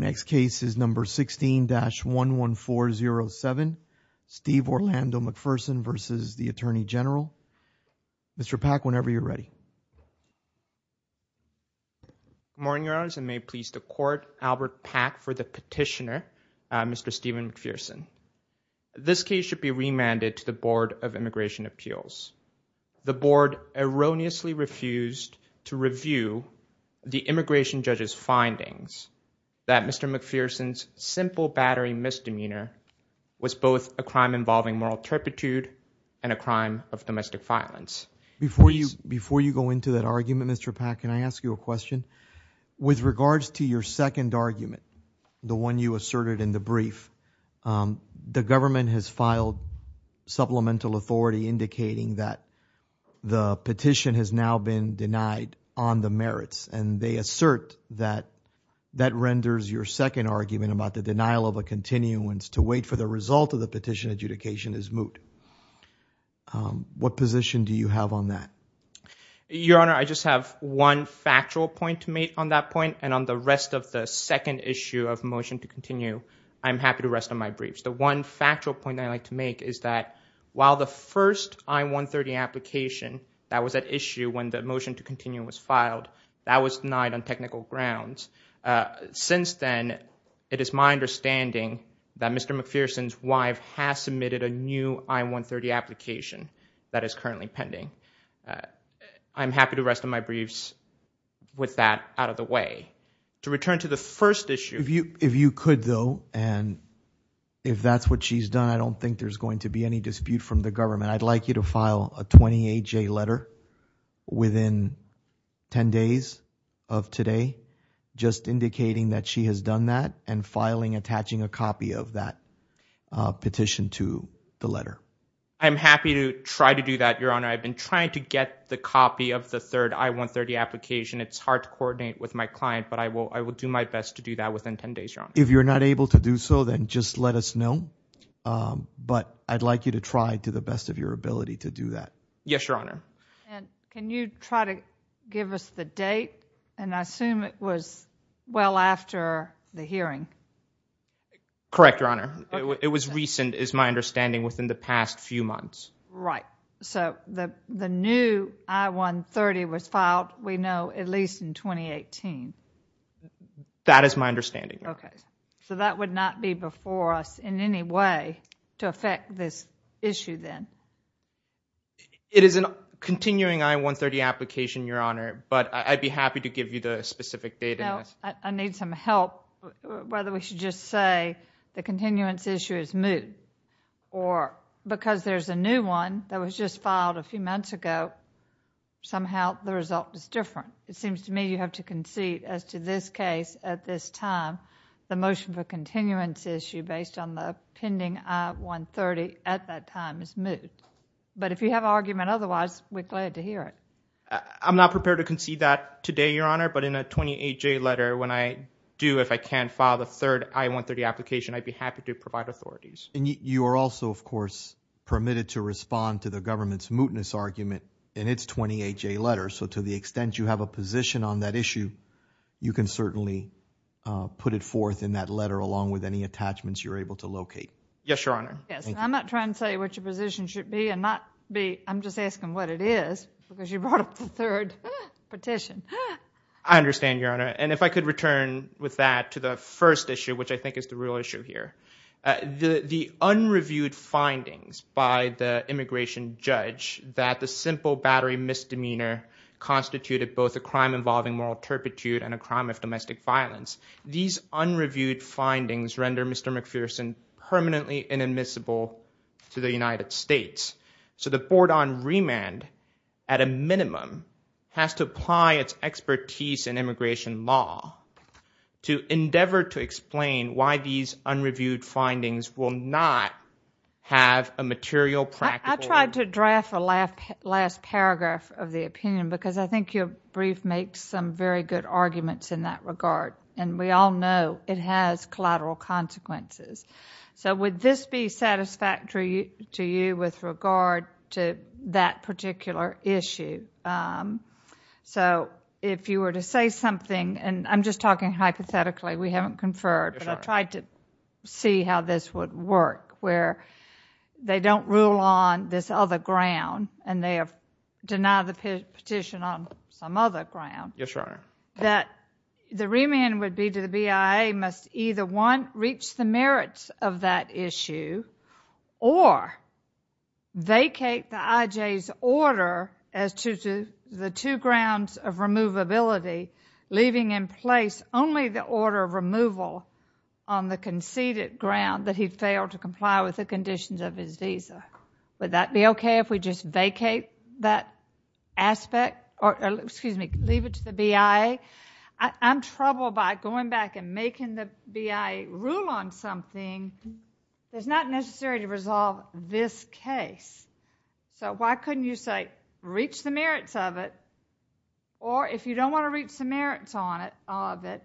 Mr. Pack, whenever you're ready Morning, Your Honors, and may it please the Court, Albert Pack for the Petitioner. Mr. Stephen McPherson, this case should be remanded to the Board of Immigration Appeals. The Board erroneously refused to review the immigration judge's findings that Mr. McPherson's simple battery misdemeanor was both a crime involving moral turpitude and a crime of domestic violence. Before you go into that argument, Mr. Pack, can I ask you a question? With regards to your second argument, the one you asserted in the brief, the government has filed supplemental authority indicating that the petition has now been denied on the merits. And they assert that that renders your second argument about the denial of a continuance to wait for the result of the petition adjudication as moot. What position do you have on that? Your Honor, I just have one factual point to make on that point. And on the rest of the second issue of motion to continue, I'm happy to rest on my briefs. The one factual point I'd like to make is that while the first I-130 application that was at issue when the motion to continue was filed, that was denied on technical grounds. Since then, it is my understanding that Mr. McPherson's wife has submitted a new I-130 application that is currently pending. I'm happy to rest on my briefs with that out of the way. To return to the first issue— If you could, though, and if that's what she's done, I don't think there's going to be any dispute from the government. I'd like you to file a 28-J letter within 10 days of today just indicating that she has done that and filing, attaching a copy of that petition to the letter. I'm happy to try to do that, Your Honor. I've been trying to get the copy of the third I-130 application. It's hard to coordinate with my client, but I will do my best to do that within 10 days, Your Honor. If you're not able to do so, then just let us know, but I'd like you to try to the best of your ability to do that. Yes, Your Honor. Can you try to give us the date? I assume it was well after the hearing. Correct, Your Honor. It was recent, is my understanding, within the past few months. Right. The new I-130 was filed, we know, at least in 2018. That is my understanding, Your Honor. Okay. So that would not be before us in any way to affect this issue then? It is a continuing I-130 application, Your Honor, but I'd be happy to give you the specific date. No, I need some help. Whether we should just say the continuance issue is moved or because there's a new one that was just filed a few months ago, somehow the result is different. It seems to me you have to concede as to this case at this time, the motion for continuance issue based on the pending I-130 at that time is moved. But if you have an argument otherwise, we're glad to hear it. I'm not prepared to concede that today, Your Honor, but in a 28-J letter, when I do, if I can't file the third I-130 application, I'd be happy to provide authorities. And you are also, of course, permitted to respond to the government's mootness argument in its 28-J letter. So to the extent you have a position on that issue, you can certainly put it forth in that letter along with any attachments you're able to locate. Yes, Your Honor. Yes, and I'm not trying to say what your position should be and not be – I'm just asking what it is because you brought up the third petition. I understand, Your Honor, and if I could return with that to the first issue, which I think is the real issue here. The unreviewed findings by the immigration judge that the simple battery misdemeanor constituted both a crime involving moral turpitude and a crime of domestic violence, these unreviewed findings render Mr. McPherson permanently inadmissible to the United States. So the board on remand, at a minimum, has to apply its expertise in immigration law to endeavor to explain why these unreviewed findings will not have a material practical – I tried to draft a last paragraph of the opinion because I think your brief makes some very good arguments in that regard, and we all know it has collateral consequences. So would this be satisfactory to you with regard to that particular issue? So if you were to say something – and I'm just talking hypothetically. We haven't conferred. Yes, Your Honor. But I tried to see how this would work where they don't rule on this other ground, and they have denied the petition on some other ground. Yes, Your Honor. That the remand would be to the BIA must either, one, reach the merits of that issue or vacate the IJ's order as to the two grounds of removability, leaving in place only the order of removal on the conceded ground that he failed to comply with the conditions of his visa. Would that be okay if we just vacate that aspect or leave it to the BIA? I'm troubled by going back and making the BIA rule on something that's not necessary to resolve this case. So why couldn't you say reach the merits of it, or if you don't want to reach the merits of it,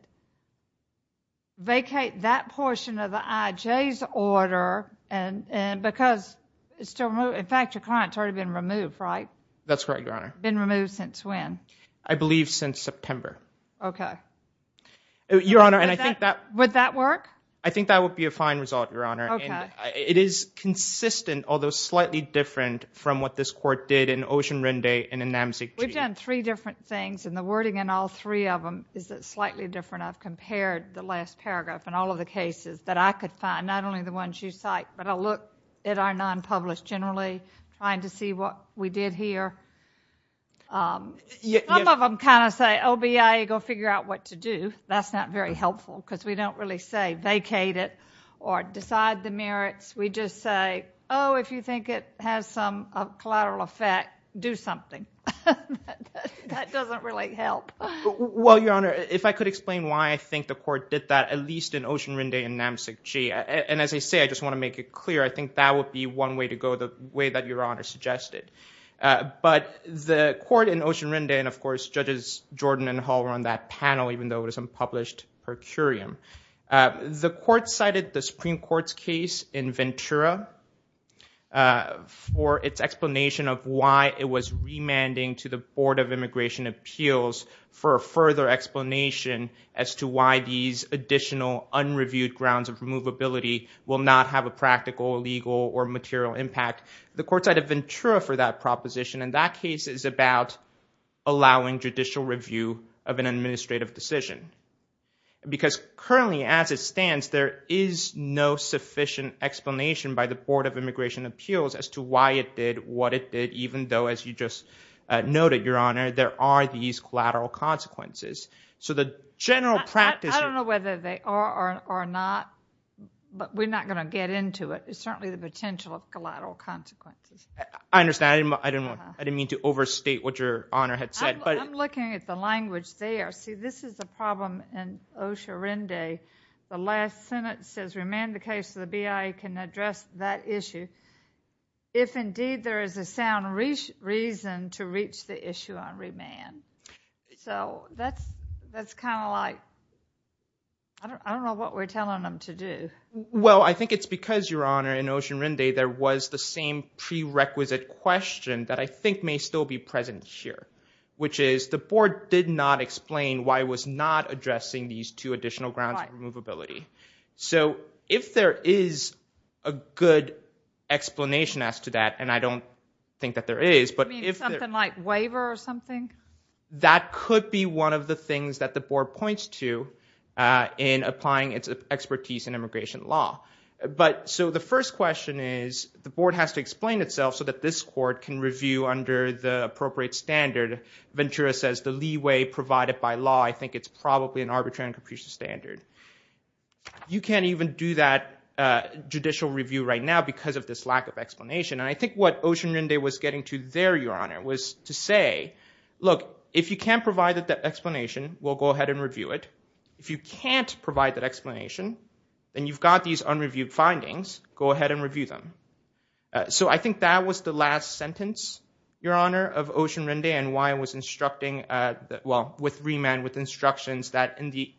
vacate that portion of the IJ's order because it's still – in fact, your client's already been removed, right? That's correct, Your Honor. Been removed since when? I believe since September. Okay. Your Honor, and I think that – Would that work? I think that would be a fine result, Your Honor. Okay. And it is consistent, although slightly different, from what this court did in Ocean Rendez and in NAMCG. We've done three different things, and the wording in all three of them is slightly different. I've compared the last paragraph and all of the cases that I could find, not only the ones you cite, but I look at our non-published generally, trying to see what we did here. Some of them kind of say, oh, BIA, go figure out what to do. That's not very helpful because we don't really say vacate it or decide the merits. We just say, oh, if you think it has some collateral effect, do something. That doesn't really help. Well, Your Honor, if I could explain why I think the court did that, at least in Ocean Rendez and NAMCG, and as I say, I just want to make it clear, I think that would be one way to go, the way that Your Honor suggested. But the court in Ocean Rendez, and, of course, Judges Jordan and Hall were on that panel, even though it was unpublished per curiam. The court cited the Supreme Court's case in Ventura for its explanation of why it was remanding to the Board of Immigration Appeals for a further explanation as to why these additional unreviewed grounds of removability will not have a practical, legal, or material impact. The court cited Ventura for that proposition, and that case is about allowing judicial review of an administrative decision. Because currently, as it stands, there is no sufficient explanation by the Board of Immigration Appeals as to why it did what it did, even though, as you just noted, Your Honor, there are these collateral consequences. So the general practice here— I don't know whether they are or not, but we're not going to get into it. It's certainly the potential of collateral consequences. I understand. I didn't mean to overstate what Your Honor had said, but— I'm looking at the language there. See, this is the problem in Ocean Rendez. The last sentence says, Remand the case to the BIA can address that issue. If indeed there is a sound reason to reach the issue on remand. So that's kind of like—I don't know what we're telling them to do. Well, I think it's because, Your Honor, in Ocean Rendez there was the same prerequisite question that I think may still be present here, which is the Board did not explain why it was not addressing these two additional grounds of removability. So if there is a good explanation as to that, and I don't think that there is— You mean something like waiver or something? That could be one of the things that the Board points to in applying its expertise in immigration law. So the first question is the Board has to explain itself so that this court can review under the appropriate standard. Ventura says the leeway provided by law, I think it's probably an arbitrary and capricious standard. You can't even do that judicial review right now because of this lack of explanation. And I think what Ocean Rendez was getting to there, Your Honor, was to say, look, if you can't provide that explanation, we'll go ahead and review it. If you can't provide that explanation, and you've got these unreviewed findings, go ahead and review them. So I think that was the last sentence, Your Honor, of Ocean Rendez and why I was instructing— well, with remand, with instructions that in the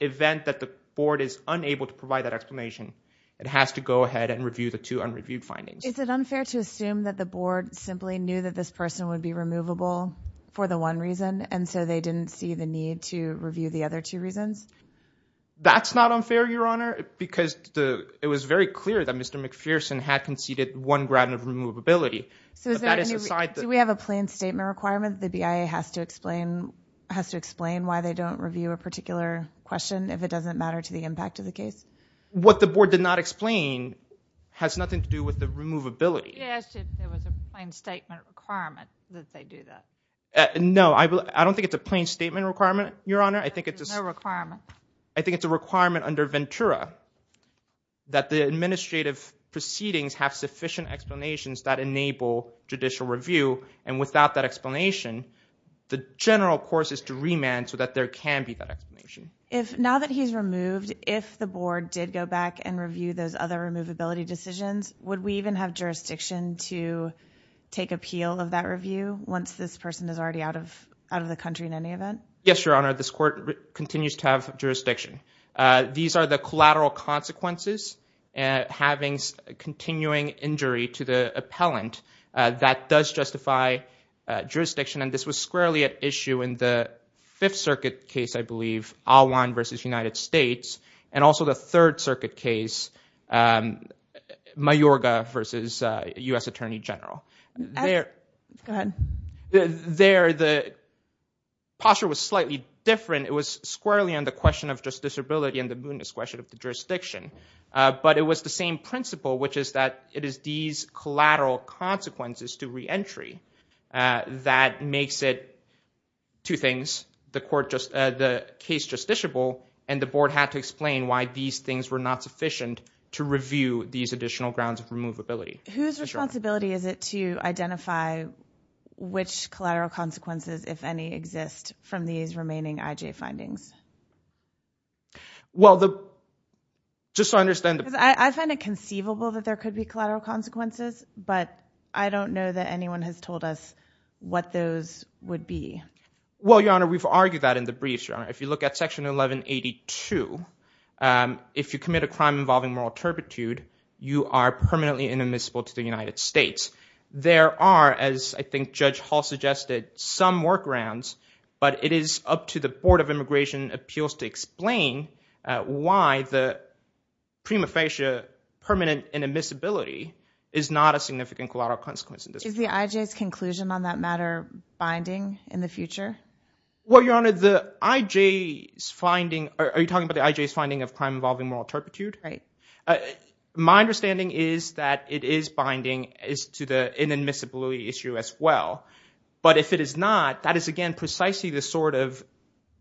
event that the Board is unable to provide that explanation, it has to go ahead and review the two unreviewed findings. Is it unfair to assume that the Board simply knew that this person would be removable for the one reason, and so they didn't see the need to review the other two reasons? That's not unfair, Your Honor, because it was very clear that Mr. McPherson had conceded one ground of removability. Do we have a plain statement requirement that the BIA has to explain why they don't review a particular question if it doesn't matter to the impact of the case? What the Board did not explain has nothing to do with the removability. Yes, if there was a plain statement requirement that they do that. No, I don't think it's a plain statement requirement, Your Honor. There's no requirement. I think it's a requirement under Ventura that the administrative proceedings have sufficient explanations that enable judicial review, and without that explanation, the general course is to remand so that there can be that explanation. Now that he's removed, if the Board did go back and review those other removability decisions, would we even have jurisdiction to take appeal of that review once this person is already out of the country in any event? Yes, Your Honor, this court continues to have jurisdiction. These are the collateral consequences having continuing injury to the appellant that does justify jurisdiction, and this was squarely at issue in the Fifth Circuit case, I believe, Alwan v. United States, and also the Third Circuit case, Mayorga v. U.S. Attorney General. Go ahead. There, the posture was slightly different. It was squarely on the question of justiciability and the mootness question of the jurisdiction, but it was the same principle, which is that it is these collateral consequences to reentry that makes it, two things, the case justiciable, and the Board had to explain why these things were not sufficient to review these additional grounds of removability. Whose responsibility is it to identify which collateral consequences, if any, exist from these remaining IJ findings? Well, just so I understand. I find it conceivable that there could be collateral consequences, but I don't know that anyone has told us what those would be. Well, Your Honor, we've argued that in the briefs, Your Honor. If you look at Section 1182, if you commit a crime involving moral turpitude, you are permanently inadmissible to the United States. There are, as I think Judge Hall suggested, some workarounds, but it is up to the Board of Immigration Appeals to explain why the prima facie permanent inadmissibility is not a significant collateral consequence. Is the IJ's conclusion on that matter binding in the future? Well, Your Honor, the IJ's finding – are you talking about the IJ's finding of crime involving moral turpitude? Right. My understanding is that it is binding as to the inadmissibility issue as well, but if it is not, that is, again, precisely the sort of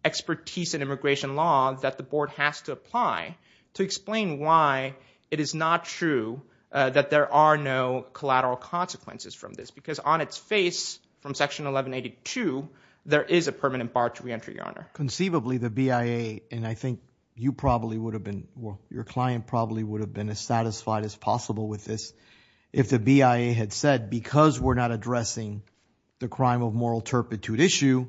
expertise in immigration law that the Board has to apply to explain why it is not true that there are no collateral consequences from this, because on its face from Section 1182, there is a permanent bar to reentry, Your Honor. Conceivably, the BIA, and I think you probably would have been – well, your client probably would have been as satisfied as possible with this if the BIA had said, because we're not addressing the crime of moral turpitude issue,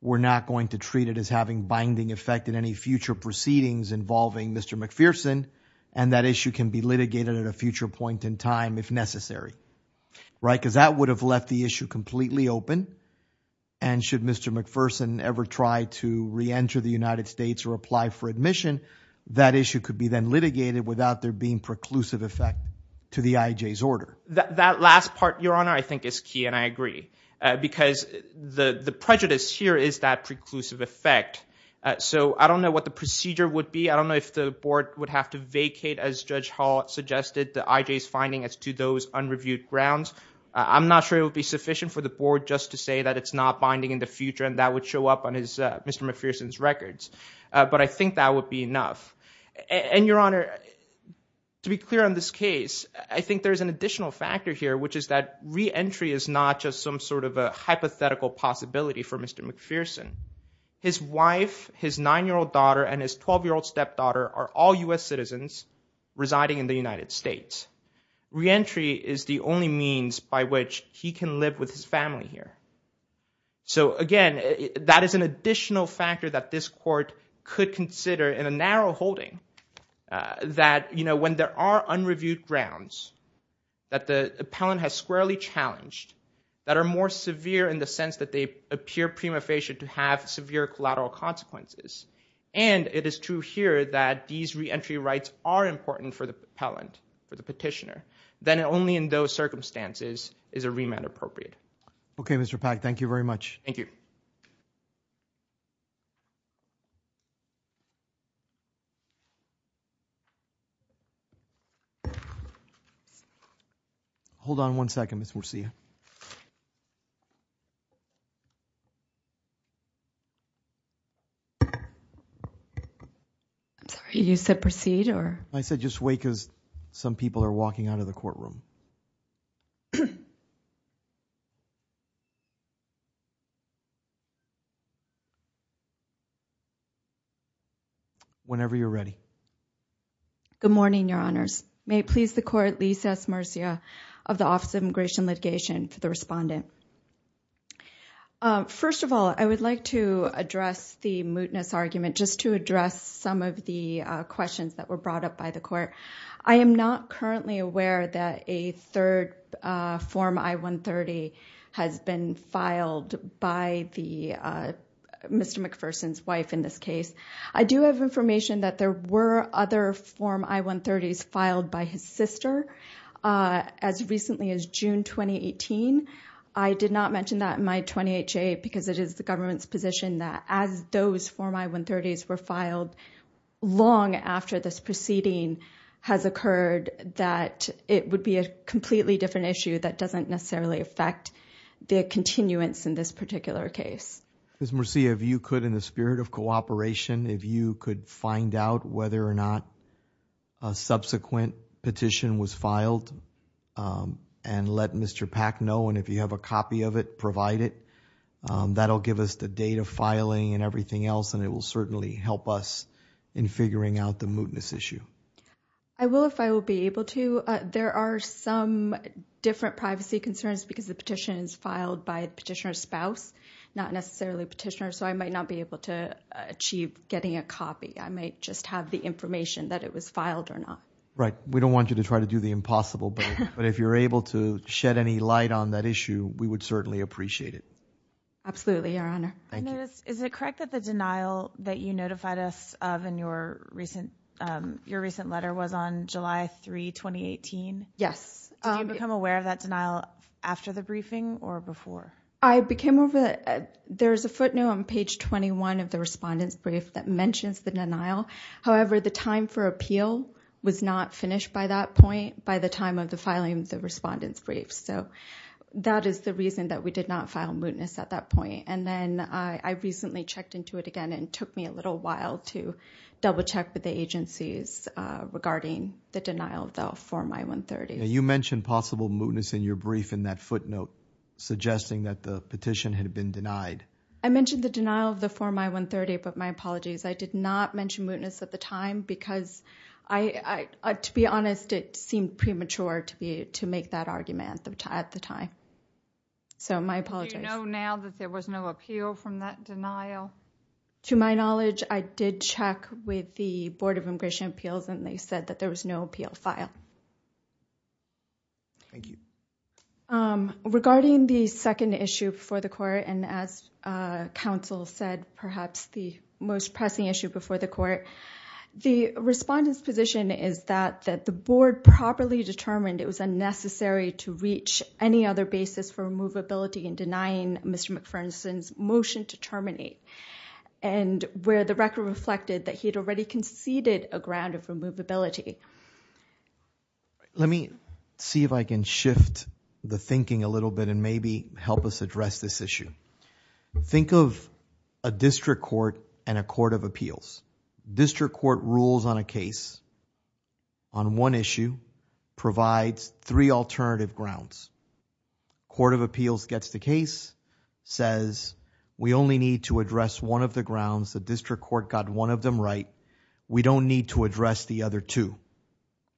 we're not going to treat it as having binding effect in any future proceedings involving Mr. McPherson, and that issue can be litigated at a future point in time if necessary, right? Because that would have left the issue completely open, and should Mr. McPherson ever try to reenter the United States or apply for admission, that issue could be then litigated without there being preclusive effect to the IJ's order. That last part, Your Honor, I think is key, and I agree, because the prejudice here is that preclusive effect. So I don't know what the procedure would be. I don't know if the Board would have to vacate, as Judge Hall suggested, the IJ's finding as to those unreviewed grounds. I'm not sure it would be sufficient for the Board just to say that it's not binding in the future, and that would show up on Mr. McPherson's records, but I think that would be enough. And, Your Honor, to be clear on this case, I think there's an additional factor here, which is that reentry is not just some sort of a hypothetical possibility for Mr. McPherson. His wife, his 9-year-old daughter, and his 12-year-old stepdaughter are all U.S. citizens residing in the United States. Reentry is the only means by which he can live with his family here. So, again, that is an additional factor that this court could consider in a narrow holding, that, you know, when there are unreviewed grounds that the appellant has squarely challenged that are more severe in the sense that they appear prima facie to have severe collateral consequences, and it is true here that these reentry rights are important for the appellant, for the petitioner, then only in those circumstances is a remand appropriate. Okay, Mr. Pak, thank you very much. Thank you. Hold on one second, Ms. Murcia. I'm sorry, you said proceed, or? I said just wait because some people are walking out of the courtroom. Whenever you're ready. Good morning, Your Honors. May it please the court, Lisa S. Murcia of the Office of Immigration Litigation, for the respondent. First of all, I would like to address the mootness argument, just to address some of the questions that were brought up by the court. I am not currently aware that a third Form I-130 has been filed by Mr. McPherson's wife in this case. I do have information that there were other Form I-130s filed by his sister as recently as June 2018. I did not mention that in my 28-J because it is the government's position that as those Form I-130s were filed long after this proceeding has occurred, that it would be a completely different issue that doesn't necessarily affect the continuance in this particular case. Ms. Murcia, if you could, in the spirit of cooperation, if you could find out whether or not a subsequent petition was filed and let Mr. Pack know, and if you have a copy of it, provide it. That'll give us the date of filing and everything else, and it will certainly help us in figuring out the mootness issue. I will if I will be able to. There are some different privacy concerns because the petition is filed by the petitioner's spouse, not necessarily petitioner, so I might not be able to achieve getting a copy. I might just have the information that it was filed or not. Right. We don't want you to try to do the impossible, but if you're able to shed any light on that issue, we would certainly appreciate it. Absolutely, Your Honor. Thank you. Is it correct that the denial that you notified us of in your recent letter was on July 3, 2018? Yes. Did you become aware of that denial after the briefing or before? I became aware of it. There is a footnote on page 21 of the respondent's brief that mentions the denial. However, the time for appeal was not finished by that point by the time of the filing of the respondent's brief, so that is the reason that we did not file mootness at that point. And then I recently checked into it again, and it took me a little while to double-check with the agencies regarding the denial of the Form I-130. You mentioned possible mootness in your brief in that footnote, suggesting that the petition had been denied. I mentioned the denial of the Form I-130, but my apologies. I did not mention mootness at the time because, to be honest, it seemed premature to make that argument at the time. So my apologies. Do you know now that there was no appeal from that denial? To my knowledge, I did check with the Board of Immigration Appeals, and they said that there was no appeal filed. Thank you. Regarding the second issue before the court, and as counsel said, perhaps the most pressing issue before the court, the respondent's position is that the board properly determined it was unnecessary to reach any other basis for removability in denying Mr. McPherson's motion to terminate, and where the record reflected that he had already conceded a ground of removability. Let me see if I can shift the thinking a little bit and maybe help us address this issue. Think of a district court and a court of appeals. District court rules on a case on one issue, provides three alternative grounds. Court of appeals gets the case, says we only need to address one of the grounds. The district court got one of them right. We don't need to address the other two,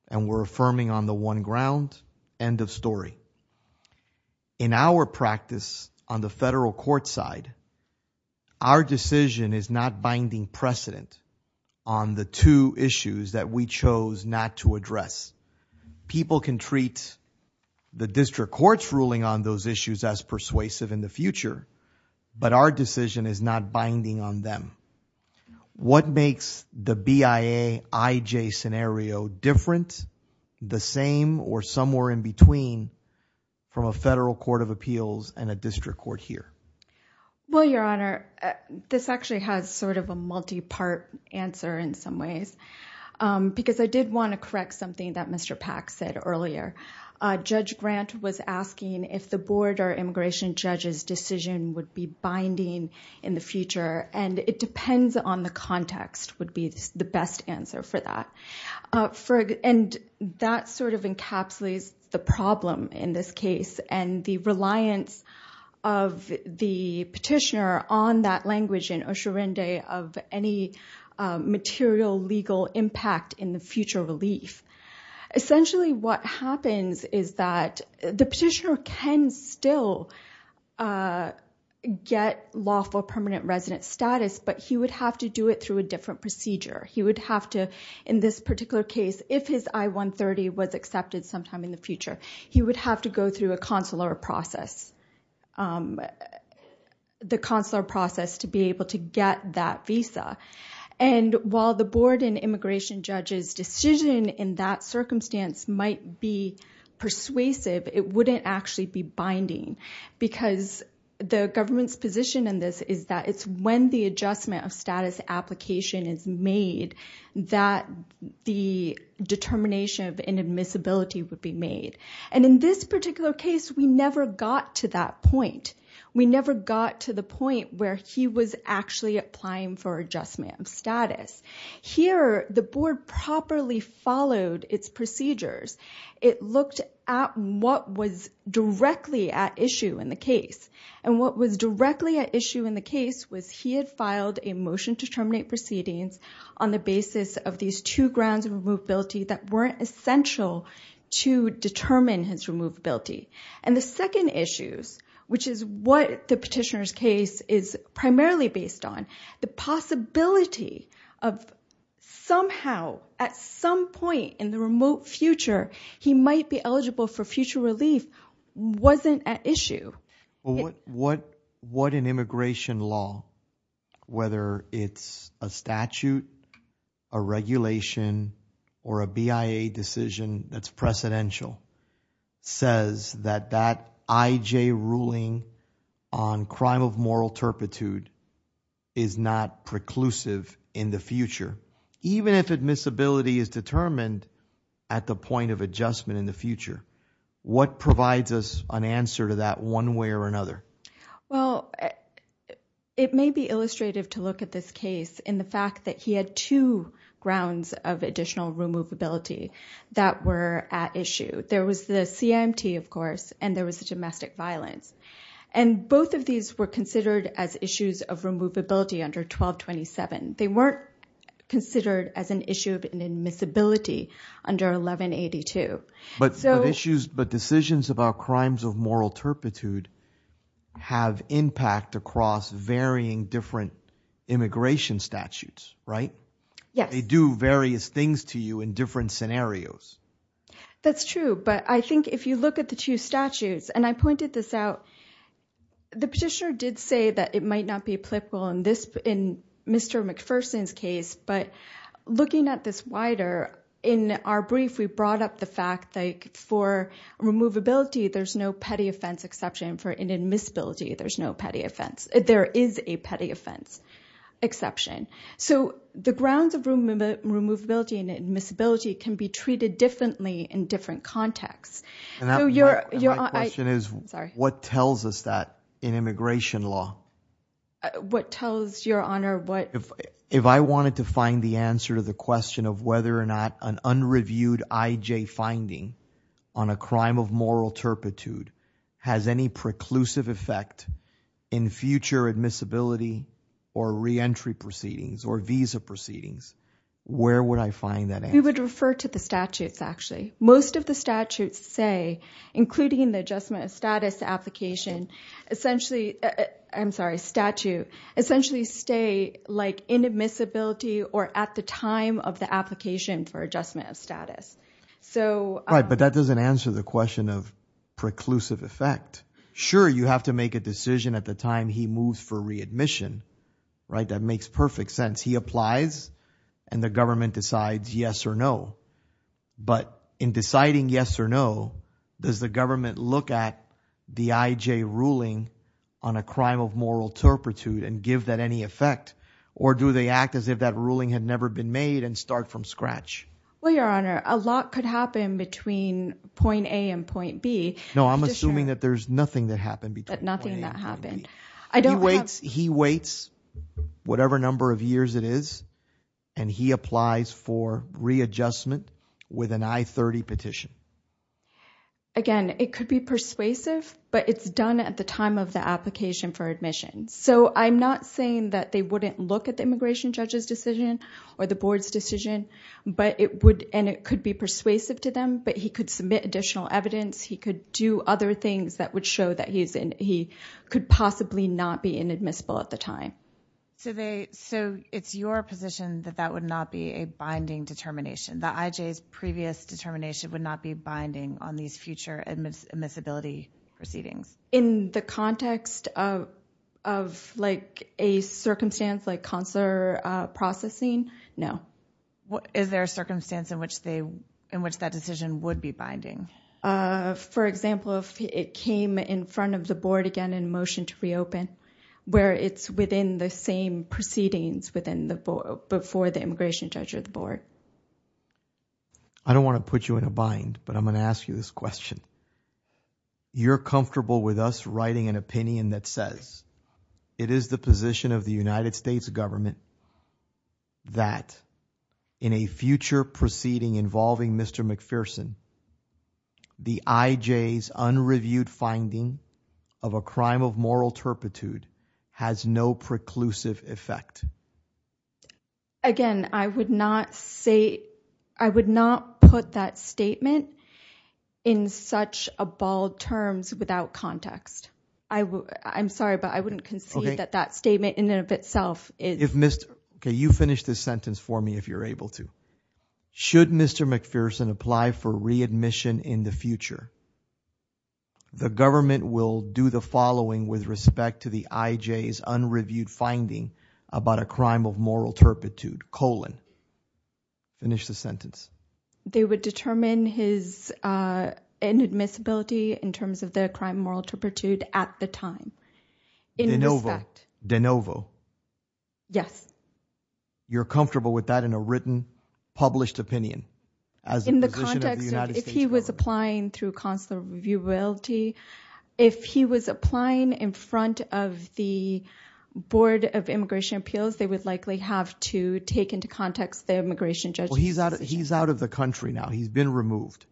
and we're affirming on the one ground. End of story. In our practice on the federal court side, our decision is not binding precedent on the two issues that we chose not to address. People can treat the district court's ruling on those issues as persuasive in the future, but our decision is not binding on them. What makes the BIA-IJ scenario different, the same, or somewhere in between from a federal court of appeals and a district court here? Well, Your Honor, this actually has sort of a multi-part answer in some ways, because I did want to correct something that Mr. Pack said earlier. Judge Grant was asking if the board or immigration judge's decision would be binding in the future, and it depends on the context would be the best answer for that. And that sort of encapsulates the problem in this case, and the reliance of the petitioner on that language in Osho Rende of any material legal impact in the future relief. Essentially what happens is that the petitioner can still get lawful permanent resident status, but he would have to do it through a different procedure. He would have to, in this particular case, if his I-130 was accepted sometime in the future, he would have to go through a consular process to be able to get that visa. And while the board and immigration judge's decision in that circumstance might be persuasive, it wouldn't actually be binding, because the government's position in this is that it's when the adjustment of status application is made that the determination of inadmissibility would be made. And in this particular case, we never got to that point. We never got to the point where he was actually applying for adjustment of status. Here, the board properly followed its procedures. It looked at what was directly at issue in the case, and what was directly at issue in the case was he had filed a motion to terminate proceedings on the basis of these two grounds of removability that weren't essential to determine his removability. And the second issue, which is what the petitioner's case is primarily based on, the possibility of somehow, at some point in the remote future, he might be eligible for future relief wasn't at issue. What an immigration law, whether it's a statute, a regulation, or a BIA decision that's precedential, says that that IJ ruling on crime of moral turpitude is not preclusive in the future, even if admissibility is determined at the point of adjustment in the future. What provides us an answer to that one way or another? Well, it may be illustrative to look at this case in the fact that he had two grounds of additional removability that were at issue. There was the CIMT, of course, and there was the domestic violence. And both of these were considered as issues of removability under 1227. They weren't considered as an issue of admissibility under 1182. But decisions about crimes of moral turpitude have impact across varying different immigration statutes, right? Yes. They do various things to you in different scenarios. That's true, but I think if you look at the two statutes, and I pointed this out, the petitioner did say that it might not be applicable in Mr. McPherson's case, but looking at this wider, in our brief, we brought up the fact that for removability, there's no petty offense exception. For an admissibility, there's no petty offense. There is a petty offense exception. So the grounds of removability and admissibility can be treated differently in different contexts. My question is what tells us that in immigration law? What tells, Your Honor, what? If I wanted to find the answer to the question of whether or not an unreviewed IJ finding on a crime of moral turpitude has any preclusive effect in future admissibility or reentry proceedings or visa proceedings, where would I find that answer? We would refer to the statutes, actually. Most of the statutes say, including the adjustment of status application, essentially, I'm sorry, statute, essentially stay like inadmissibility or at the time of the application for adjustment of status. Right, but that doesn't answer the question of preclusive effect. Sure, you have to make a decision at the time he moves for readmission. That makes perfect sense. He applies and the government decides yes or no. But in deciding yes or no, does the government look at the IJ ruling on a crime of moral turpitude and give that any effect? Or do they act as if that ruling had never been made and start from scratch? Well, Your Honor, a lot could happen between point A and point B. No, I'm assuming that there's nothing that happened between point A and point B. He waits whatever number of years it is, and he applies for readjustment with an I-30 petition. Again, it could be persuasive, but it's done at the time of the application for admission. So I'm not saying that they wouldn't look at the immigration judge's decision or the board's decision, and it could be persuasive to them, but he could submit additional evidence. He could do other things that would show that he could possibly not be inadmissible at the time. So it's your position that that would not be a binding determination, that IJ's previous determination would not be binding on these future admissibility proceedings? In the context of a circumstance like consular processing, no. Is there a circumstance in which that decision would be binding? For example, if it came in front of the board again in motion to reopen, where it's within the same proceedings before the immigration judge or the board? I don't want to put you in a bind, but I'm going to ask you this question. You're comfortable with us writing an opinion that says it is the position of the United States government that in a future proceeding involving Mr. McPherson, the IJ's unreviewed finding of a crime of moral turpitude has no preclusive effect? Again, I would not put that statement in such a bald terms without context. I'm sorry, but I wouldn't concede that that statement in and of itself is... Okay, you finish this sentence for me if you're able to. Should Mr. McPherson apply for readmission in the future, the government will do the following with respect to the IJ's unreviewed finding about a crime of moral turpitude, colon. Finish the sentence. They would determine his inadmissibility in terms of their crime of moral turpitude at the time. De novo. In respect. De novo. Yes. You're comfortable with that in a written, published opinion? In the context of if he was applying through consular reviewability, if he was applying in front of the board of immigration appeals, they would likely have to take into context the immigration judge's position. Well, he's out of the country now. He's been removed.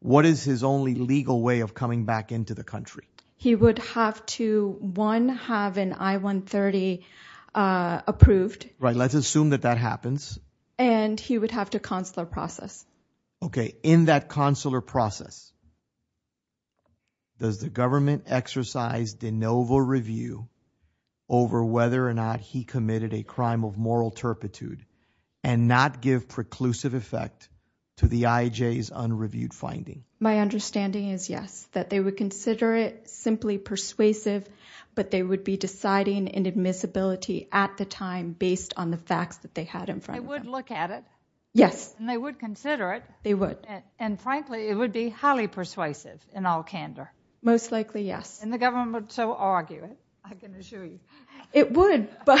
What is his only legal way of coming back into the country? He would have to, one, have an I-130 approved. Right, let's assume that that happens. And he would have to consular process. Okay, in that consular process, does the government exercise de novo review over whether or not he committed a crime of moral turpitude and not give preclusive effect to the IJ's unreviewed finding? My understanding is yes, that they would consider it simply persuasive, but they would be deciding inadmissibility at the time based on the facts that they had in front of them. They would look at it? Yes. And they would consider it? They would. And frankly, it would be highly persuasive in all candor? Most likely, yes. And the government would still argue it, I can assure you? It would, but...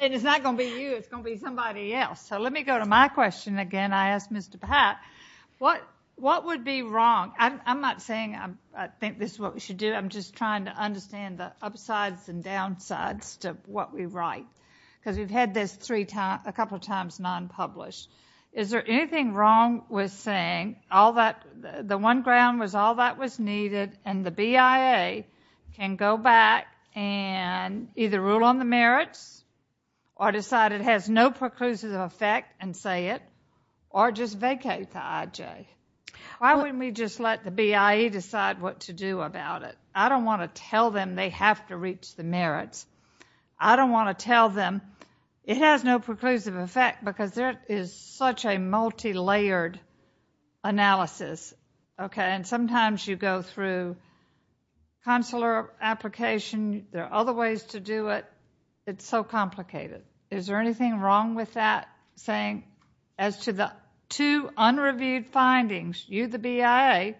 And it's not going to be you. It's going to be somebody else. So let me go to my question again. I asked Mr. Pat, what would be wrong? I'm not saying I think this is what we should do. I'm just trying to understand the upsides and downsides to what we write because we've had this a couple of times non-published. Is there anything wrong with saying the one ground was all that was needed and the BIA can go back and either rule on the merits or decide it has no preclusive effect and say it or just vacate the IJ? Why wouldn't we just let the BIA decide what to do about it? I don't want to tell them they have to reach the merits. I don't want to tell them it has no preclusive effect because there is such a multilayered analysis. Sometimes you go through consular application. There are other ways to do it. It's so complicated. Is there anything wrong with that saying as to the two unreviewed findings, you, the BIA,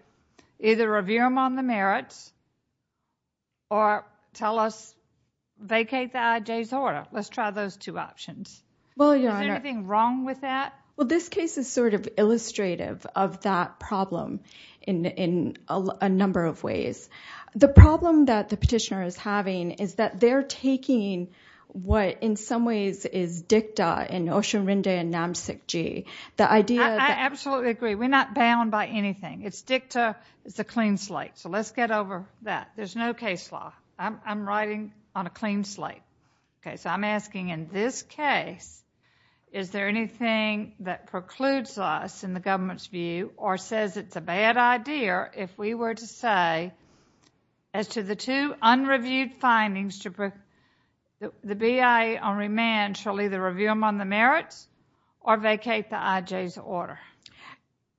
either review them on the merits or tell us vacate the IJ's order. Let's try those two options. Is there anything wrong with that? This case is sort of illustrative of that problem in a number of ways. The problem that the petitioner is having is that they're taking what in some ways is dicta in Oshunrinde and Namsikji. I absolutely agree. We're not bound by anything. It's dicta. It's a clean slate. Let's get over that. There's no case law. I'm writing on a clean slate. I'm asking in this case, is there anything that precludes us in the government's view or says it's a bad idea if we were to say as to the two unreviewed findings, the BIA on remand shall either review them on the merits or vacate the IJ's order.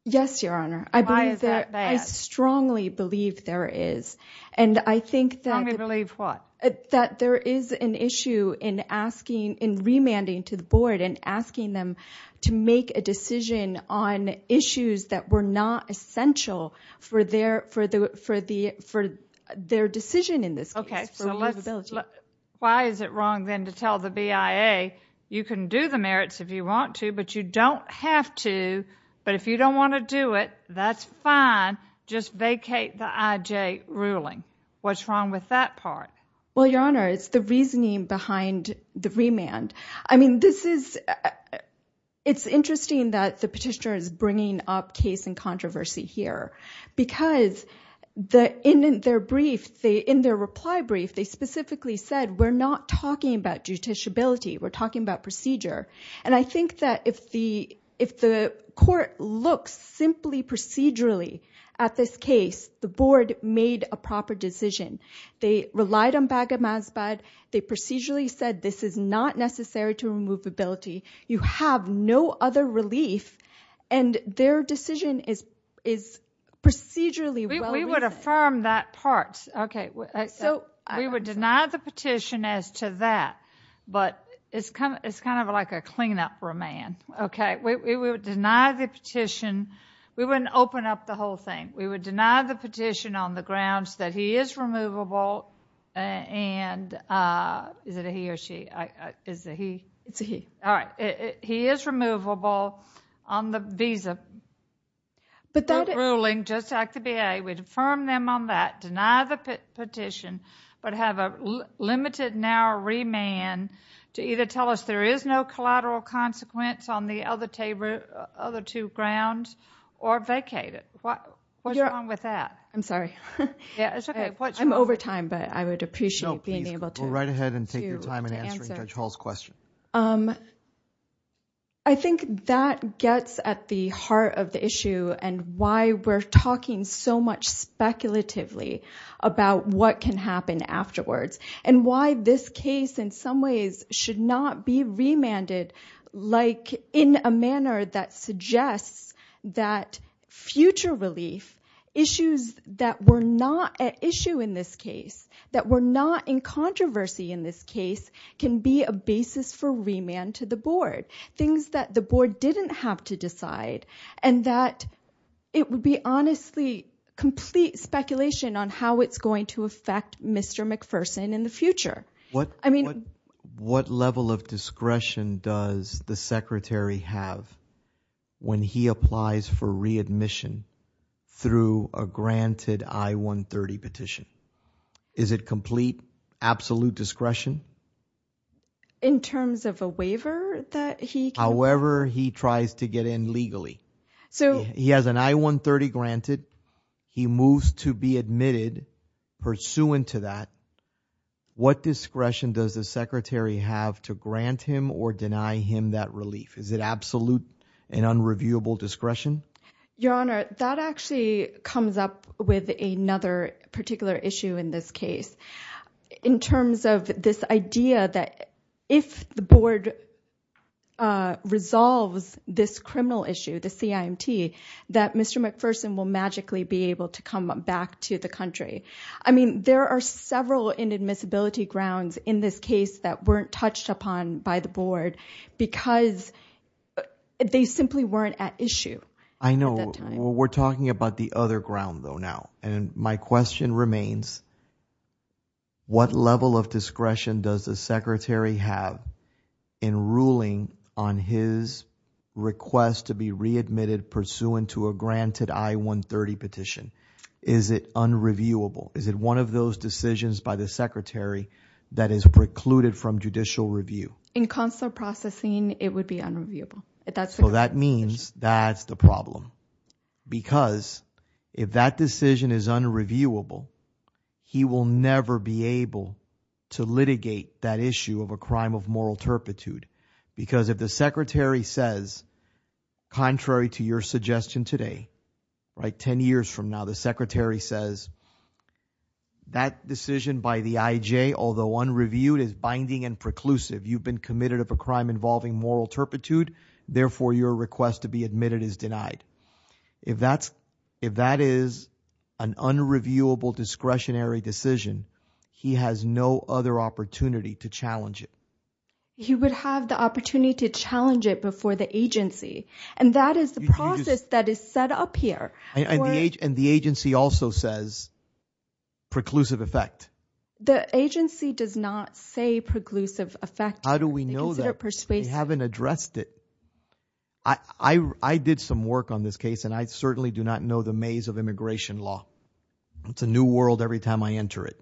Yes, Your Honor. Why is that bad? I strongly believe there is. Strongly believe what? That there is an issue in remanding to the board and asking them to make a decision on issues that were not essential for their decision in this case. Okay, so why is it wrong then to tell the BIA, you can do the merits if you want to, but you don't have to, but if you don't want to do it, that's fine. Just vacate the IJ ruling. What's wrong with that part? Well, Your Honor, it's the reasoning behind the remand. I mean, this is, it's interesting that the petitioner is bringing up case and controversy here because in their brief, in their reply brief, they specifically said, we're not talking about judiciability. We're talking about procedure. And I think that if the court looks simply procedurally at this case, the board made a proper decision. They relied on Baghamazbad. They procedurally said this is not necessary to remove ability. You have no other relief. And their decision is procedurally well-reasoned. We would affirm that part. Okay. We would deny the petition as to that, but it's kind of like a clean-up remand. Okay. We would deny the petition. We wouldn't open up the whole thing. We would deny the petition on the grounds that he is removable and, is it a he or she? Is it he? It's a he. All right. He is removable on the visa ruling, just like the BA. We'd affirm them on that, deny the petition, but have a limited now remand to either tell us there is no collateral consequence on the other two grounds or vacate it. What's wrong with that? I'm sorry. It's okay. I'm over time, but I would appreciate being able to answer. We'll write ahead and take your time in answering Judge Hall's question. I think that gets at the heart of the issue and why we're talking so much speculatively about what can happen afterwards and why this case in some ways should not be remanded, in a manner that suggests that future relief, issues that were not at issue in this case, that were not in controversy in this case, can be a basis for remand to the board, things that the board didn't have to decide, and that it would be honestly complete speculation on how it's going to affect Mr. McPherson in the future. What level of discretion does the secretary have when he applies for readmission through a granted I-130 petition? Is it complete, absolute discretion? In terms of a waiver that he can... However he tries to get in legally. He has an I-130 granted. He moves to be admitted pursuant to that. What discretion does the secretary have to grant him or deny him that relief? Is it absolute and unreviewable discretion? Your Honor, that actually comes up with another particular issue in this case. In terms of this idea that if the board resolves this criminal issue, the CIMT, that Mr. McPherson will magically be able to come back to the country. I mean, there are several inadmissibility grounds in this case that weren't touched upon by the board because they simply weren't at issue at that time. I know. We're talking about the other ground though now. And my question remains, what level of discretion does the secretary have in ruling on his request to be readmitted pursuant to a granted I-130 petition? Is it unreviewable? Is it one of those decisions by the secretary that is precluded from judicial review? In consular processing, it would be unreviewable. So that means that's the problem. Because if that decision is unreviewable, he will never be able to litigate that issue of a crime of moral turpitude. Because if the secretary says, contrary to your suggestion today, 10 years from now, the secretary says, that decision by the IJ, although unreviewed, is binding and preclusive. You've been committed of a crime involving moral turpitude. Therefore, your request to be admitted is denied. If that is an unreviewable discretionary decision, he has no other opportunity to challenge it. He would have the opportunity to challenge it before the agency. And that is the process that is set up here. And the agency also says preclusive effect. The agency does not say preclusive effect. How do we know that? They haven't addressed it. I did some work on this case, and I certainly do not know the maze of immigration law. It's a new world every time I enter it.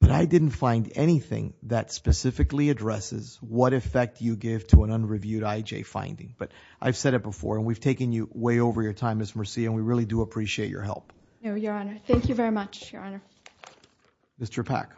But I didn't find anything that specifically addresses what effect you give to an unreviewed IJ finding. But I've said it before, and we've taken you way over your time, Ms. Mercia, and we really do appreciate your help. No, Your Honor. Thank you very much, Your Honor. Mr. Pack.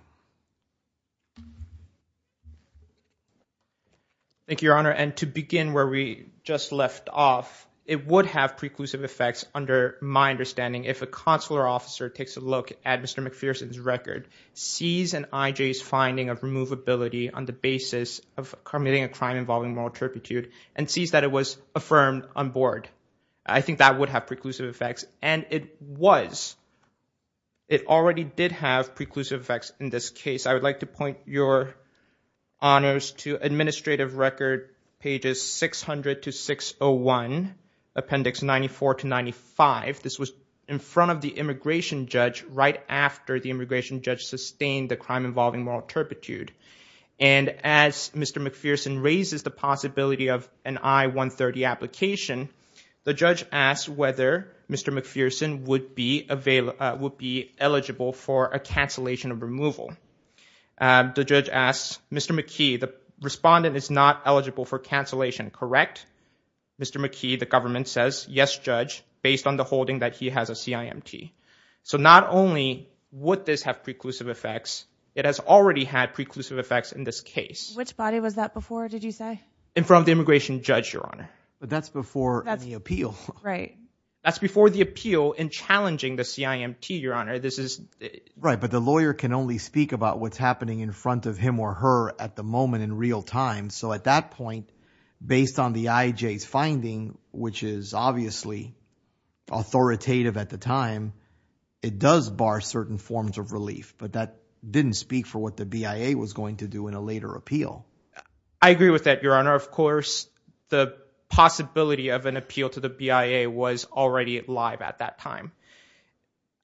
Thank you, Your Honor. And to begin where we just left off, it would have preclusive effects under my understanding if a consular officer takes a look at Mr. McPherson's record, sees an IJ's finding of removability on the basis of committing a crime involving moral turpitude, and sees that it was affirmed on board. I think that would have preclusive effects. And it was. It already did have preclusive effects in this case. I would like to point your honors to administrative record pages 600 to 601, appendix 94 to 95. This was in front of the immigration judge right after the immigration judge sustained the crime involving moral turpitude. And as Mr. McPherson raises the possibility of an I-130 application, the judge asked whether Mr. McPherson would be eligible for a cancellation of removal. The judge asked, Mr. McKee, the respondent is not eligible for cancellation, correct? Mr. McKee, the government says, yes, judge, based on the holding that he has a CIMT. So not only would this have preclusive effects, it has already had preclusive effects in this case. Which body was that before, did you say? In front of the immigration judge, your honor. But that's before the appeal. Right. That's before the appeal in challenging the CIMT, your honor. This is. Right, but the lawyer can only speak about what's happening in front of him or her at the moment in real time. So at that point, based on the IJ's finding, which is obviously authoritative at the time, it does bar certain forms of relief. But that didn't speak for what the BIA was going to do in a later appeal. I agree with that, your honor. Of course, the possibility of an appeal to the BIA was already live at that time.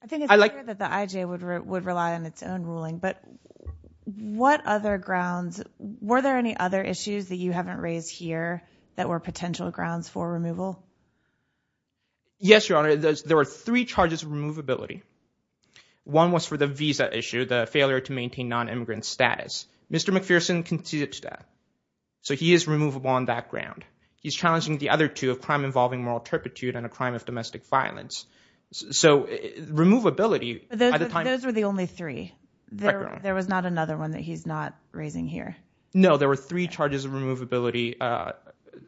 I think it's clear that the IJ would rely on its own ruling. But what other grounds, were there any other issues that you haven't raised here that were potential grounds for removal? Yes, your honor. There were three charges of removability. One was for the visa issue, the failure to maintain non-immigrant status. Mr. McPherson conceded to that. So he is removable on that ground. He's challenging the other two, a crime involving moral turpitude and a crime of domestic violence. So removability. Those were the only three. There was not another one that he's not raising here. No, there were three charges of removability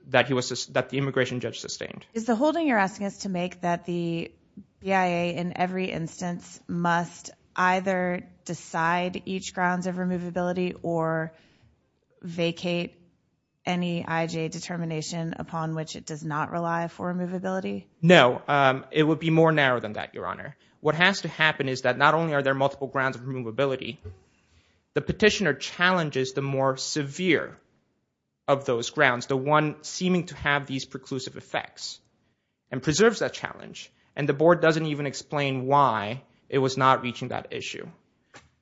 that the immigration judge sustained. Is the holding you're asking us to make that the BIA, in every instance, must either decide each grounds of removability or vacate any IJ determination upon which it does not rely for removability? No, it would be more narrow than that, your honor. What has to happen is that not only are there multiple grounds of removability, the petitioner challenges the more severe of those grounds, the one seeming to have these preclusive effects and preserves that challenge. And the board doesn't even explain why it was not reaching that issue.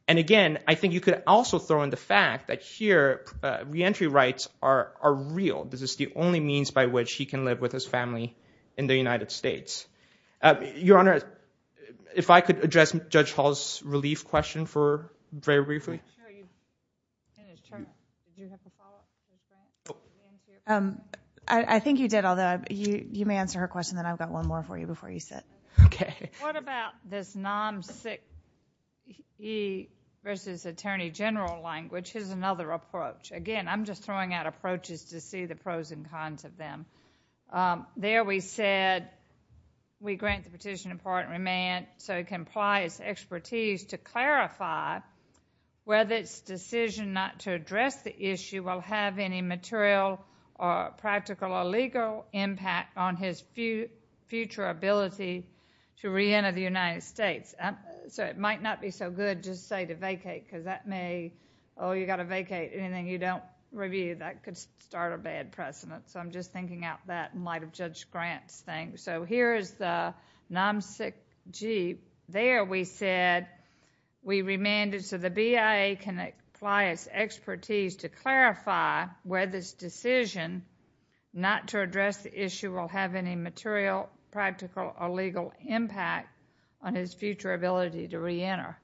And again, I think you could also throw in the fact that here, reentry rights are real. This is the only means by which he can live with his family in the United States. Your honor, if I could address Judge Hall's relief question very briefly. I think you did, although you may answer her question, then I've got one more for you before you sit. Okay. What about this non-6E versus attorney general language? Here's another approach. Again, I'm just throwing out approaches to see the pros and cons of them. There we said we grant the petitioner part remand so he can apply his expertise to clarify whether his decision not to address the issue will have any material or practical or legal impact on his future ability to reenter the United States. So it might not be so good just say to vacate because that may, oh, you've got to vacate. Anything you don't review, that could start a bad precedent. So I'm just thinking out that in light of Judge Grant's thing. So here is the non-6G. There we said we remanded so the BIA can apply its expertise to clarify whether his decision not to address the issue will have any material, practical, or legal impact on his future ability to reenter.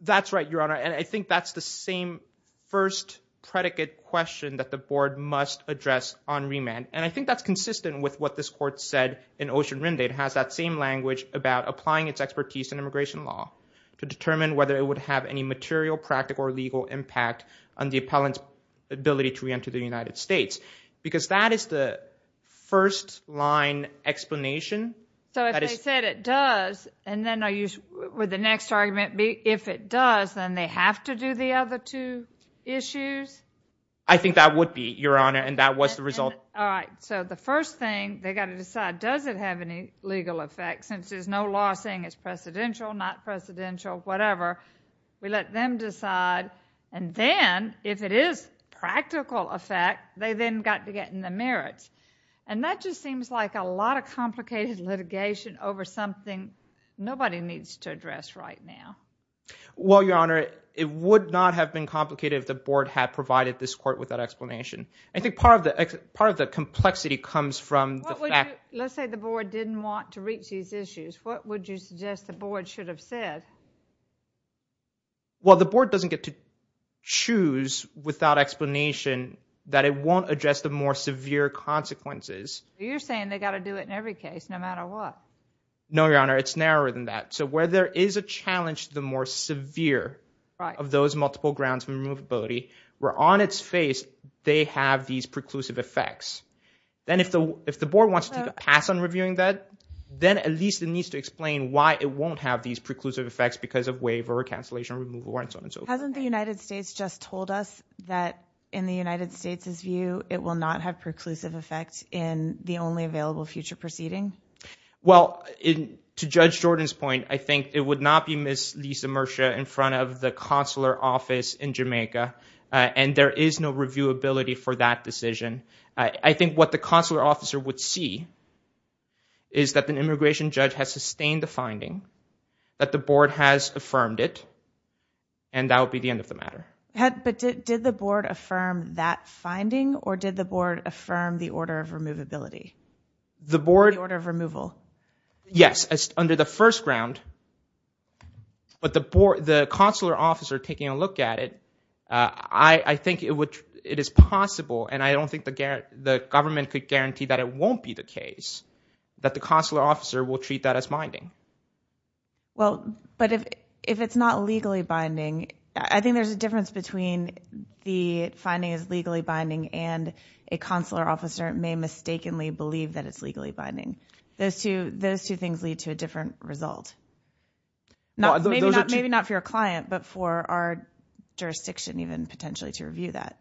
That's right, your honor. And I think that's the same first predicate question that the board must address on remand. And I think that's consistent with what this court said in Ocean Rindade. It has that same language about applying its expertise in immigration law to determine whether it would have any material, practical, or legal impact on the appellant's ability to reenter the United States. Because that is the first-line explanation. So if they said it does, and then I use the next argument, if it does, then they have to do the other two issues? I think that would be, your honor, and that was the result. All right. So the first thing they got to decide, does it have any legal effect? Since there's no law saying it's precedential, not precedential, whatever. We let them decide. And then, if it is practical effect, they then got to get in the merits. And that just seems like a lot of complicated litigation over something nobody needs to address right now. Well, your honor, it would not have been complicated if the board had provided this court with that explanation. I think part of the complexity comes from the fact that Let's say the board didn't want to reach these issues. What would you suggest the board should have said? Well, the board doesn't get to choose without explanation that it won't address the more severe consequences. You're saying they got to do it in every case, no matter what. No, your honor. It's narrower than that. So where there is a challenge to the more severe of those multiple grounds for removability, where on its face they have these preclusive effects, then if the board wants to take a pass on reviewing that, then at least it needs to explain why it won't have these preclusive effects because of waiver or cancellation or removal or so on and so forth. Hasn't the United States just told us that, in the United States' view, it will not have preclusive effects in the only available future proceeding? Well, to Judge Jordan's point, I think it would not be Miss Lisa Murchia in front of the consular office in Jamaica, and there is no reviewability for that decision. I think what the consular officer would see is that the immigration judge has sustained the finding, that the board has affirmed it, and that would be the end of the matter. But did the board affirm that finding, or did the board affirm the order of removability? The board? The order of removal. Yes, under the first ground. But the consular officer taking a look at it, I think it is possible, and I don't think the government could guarantee that it won't be the case, that the consular officer will treat that as binding. Well, but if it's not legally binding, I think there's a difference between the finding as legally binding and a consular officer may mistakenly believe that it's legally binding. Those two things lead to a different result. Maybe not for your client, but for our jurisdiction, even, potentially, to review that.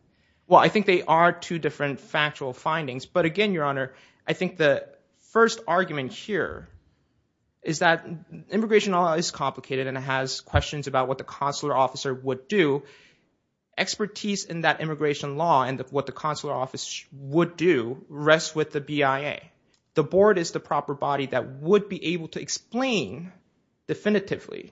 Well, I think they are two different factual findings. But again, Your Honor, I think the first argument here is that immigration law is complicated, and it has questions about what the consular officer would do. Expertise in that immigration law and what the consular officer would do rests with the BIA. The board is the proper body that would be able to explain definitively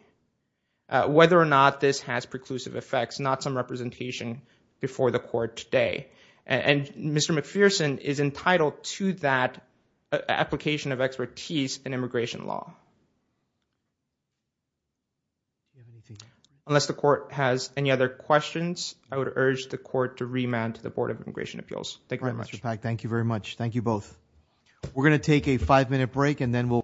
whether or not this has preclusive effects, not some representation before the court today. And Mr. McPherson is entitled to that application of expertise in immigration law. Unless the court has any other questions, I would urge the court to remand to the Board of Immigration Appeals. Thank you very much. All right, Mr. Pak, thank you very much. Thank you both. We're going to take a five-minute break, and then we'll...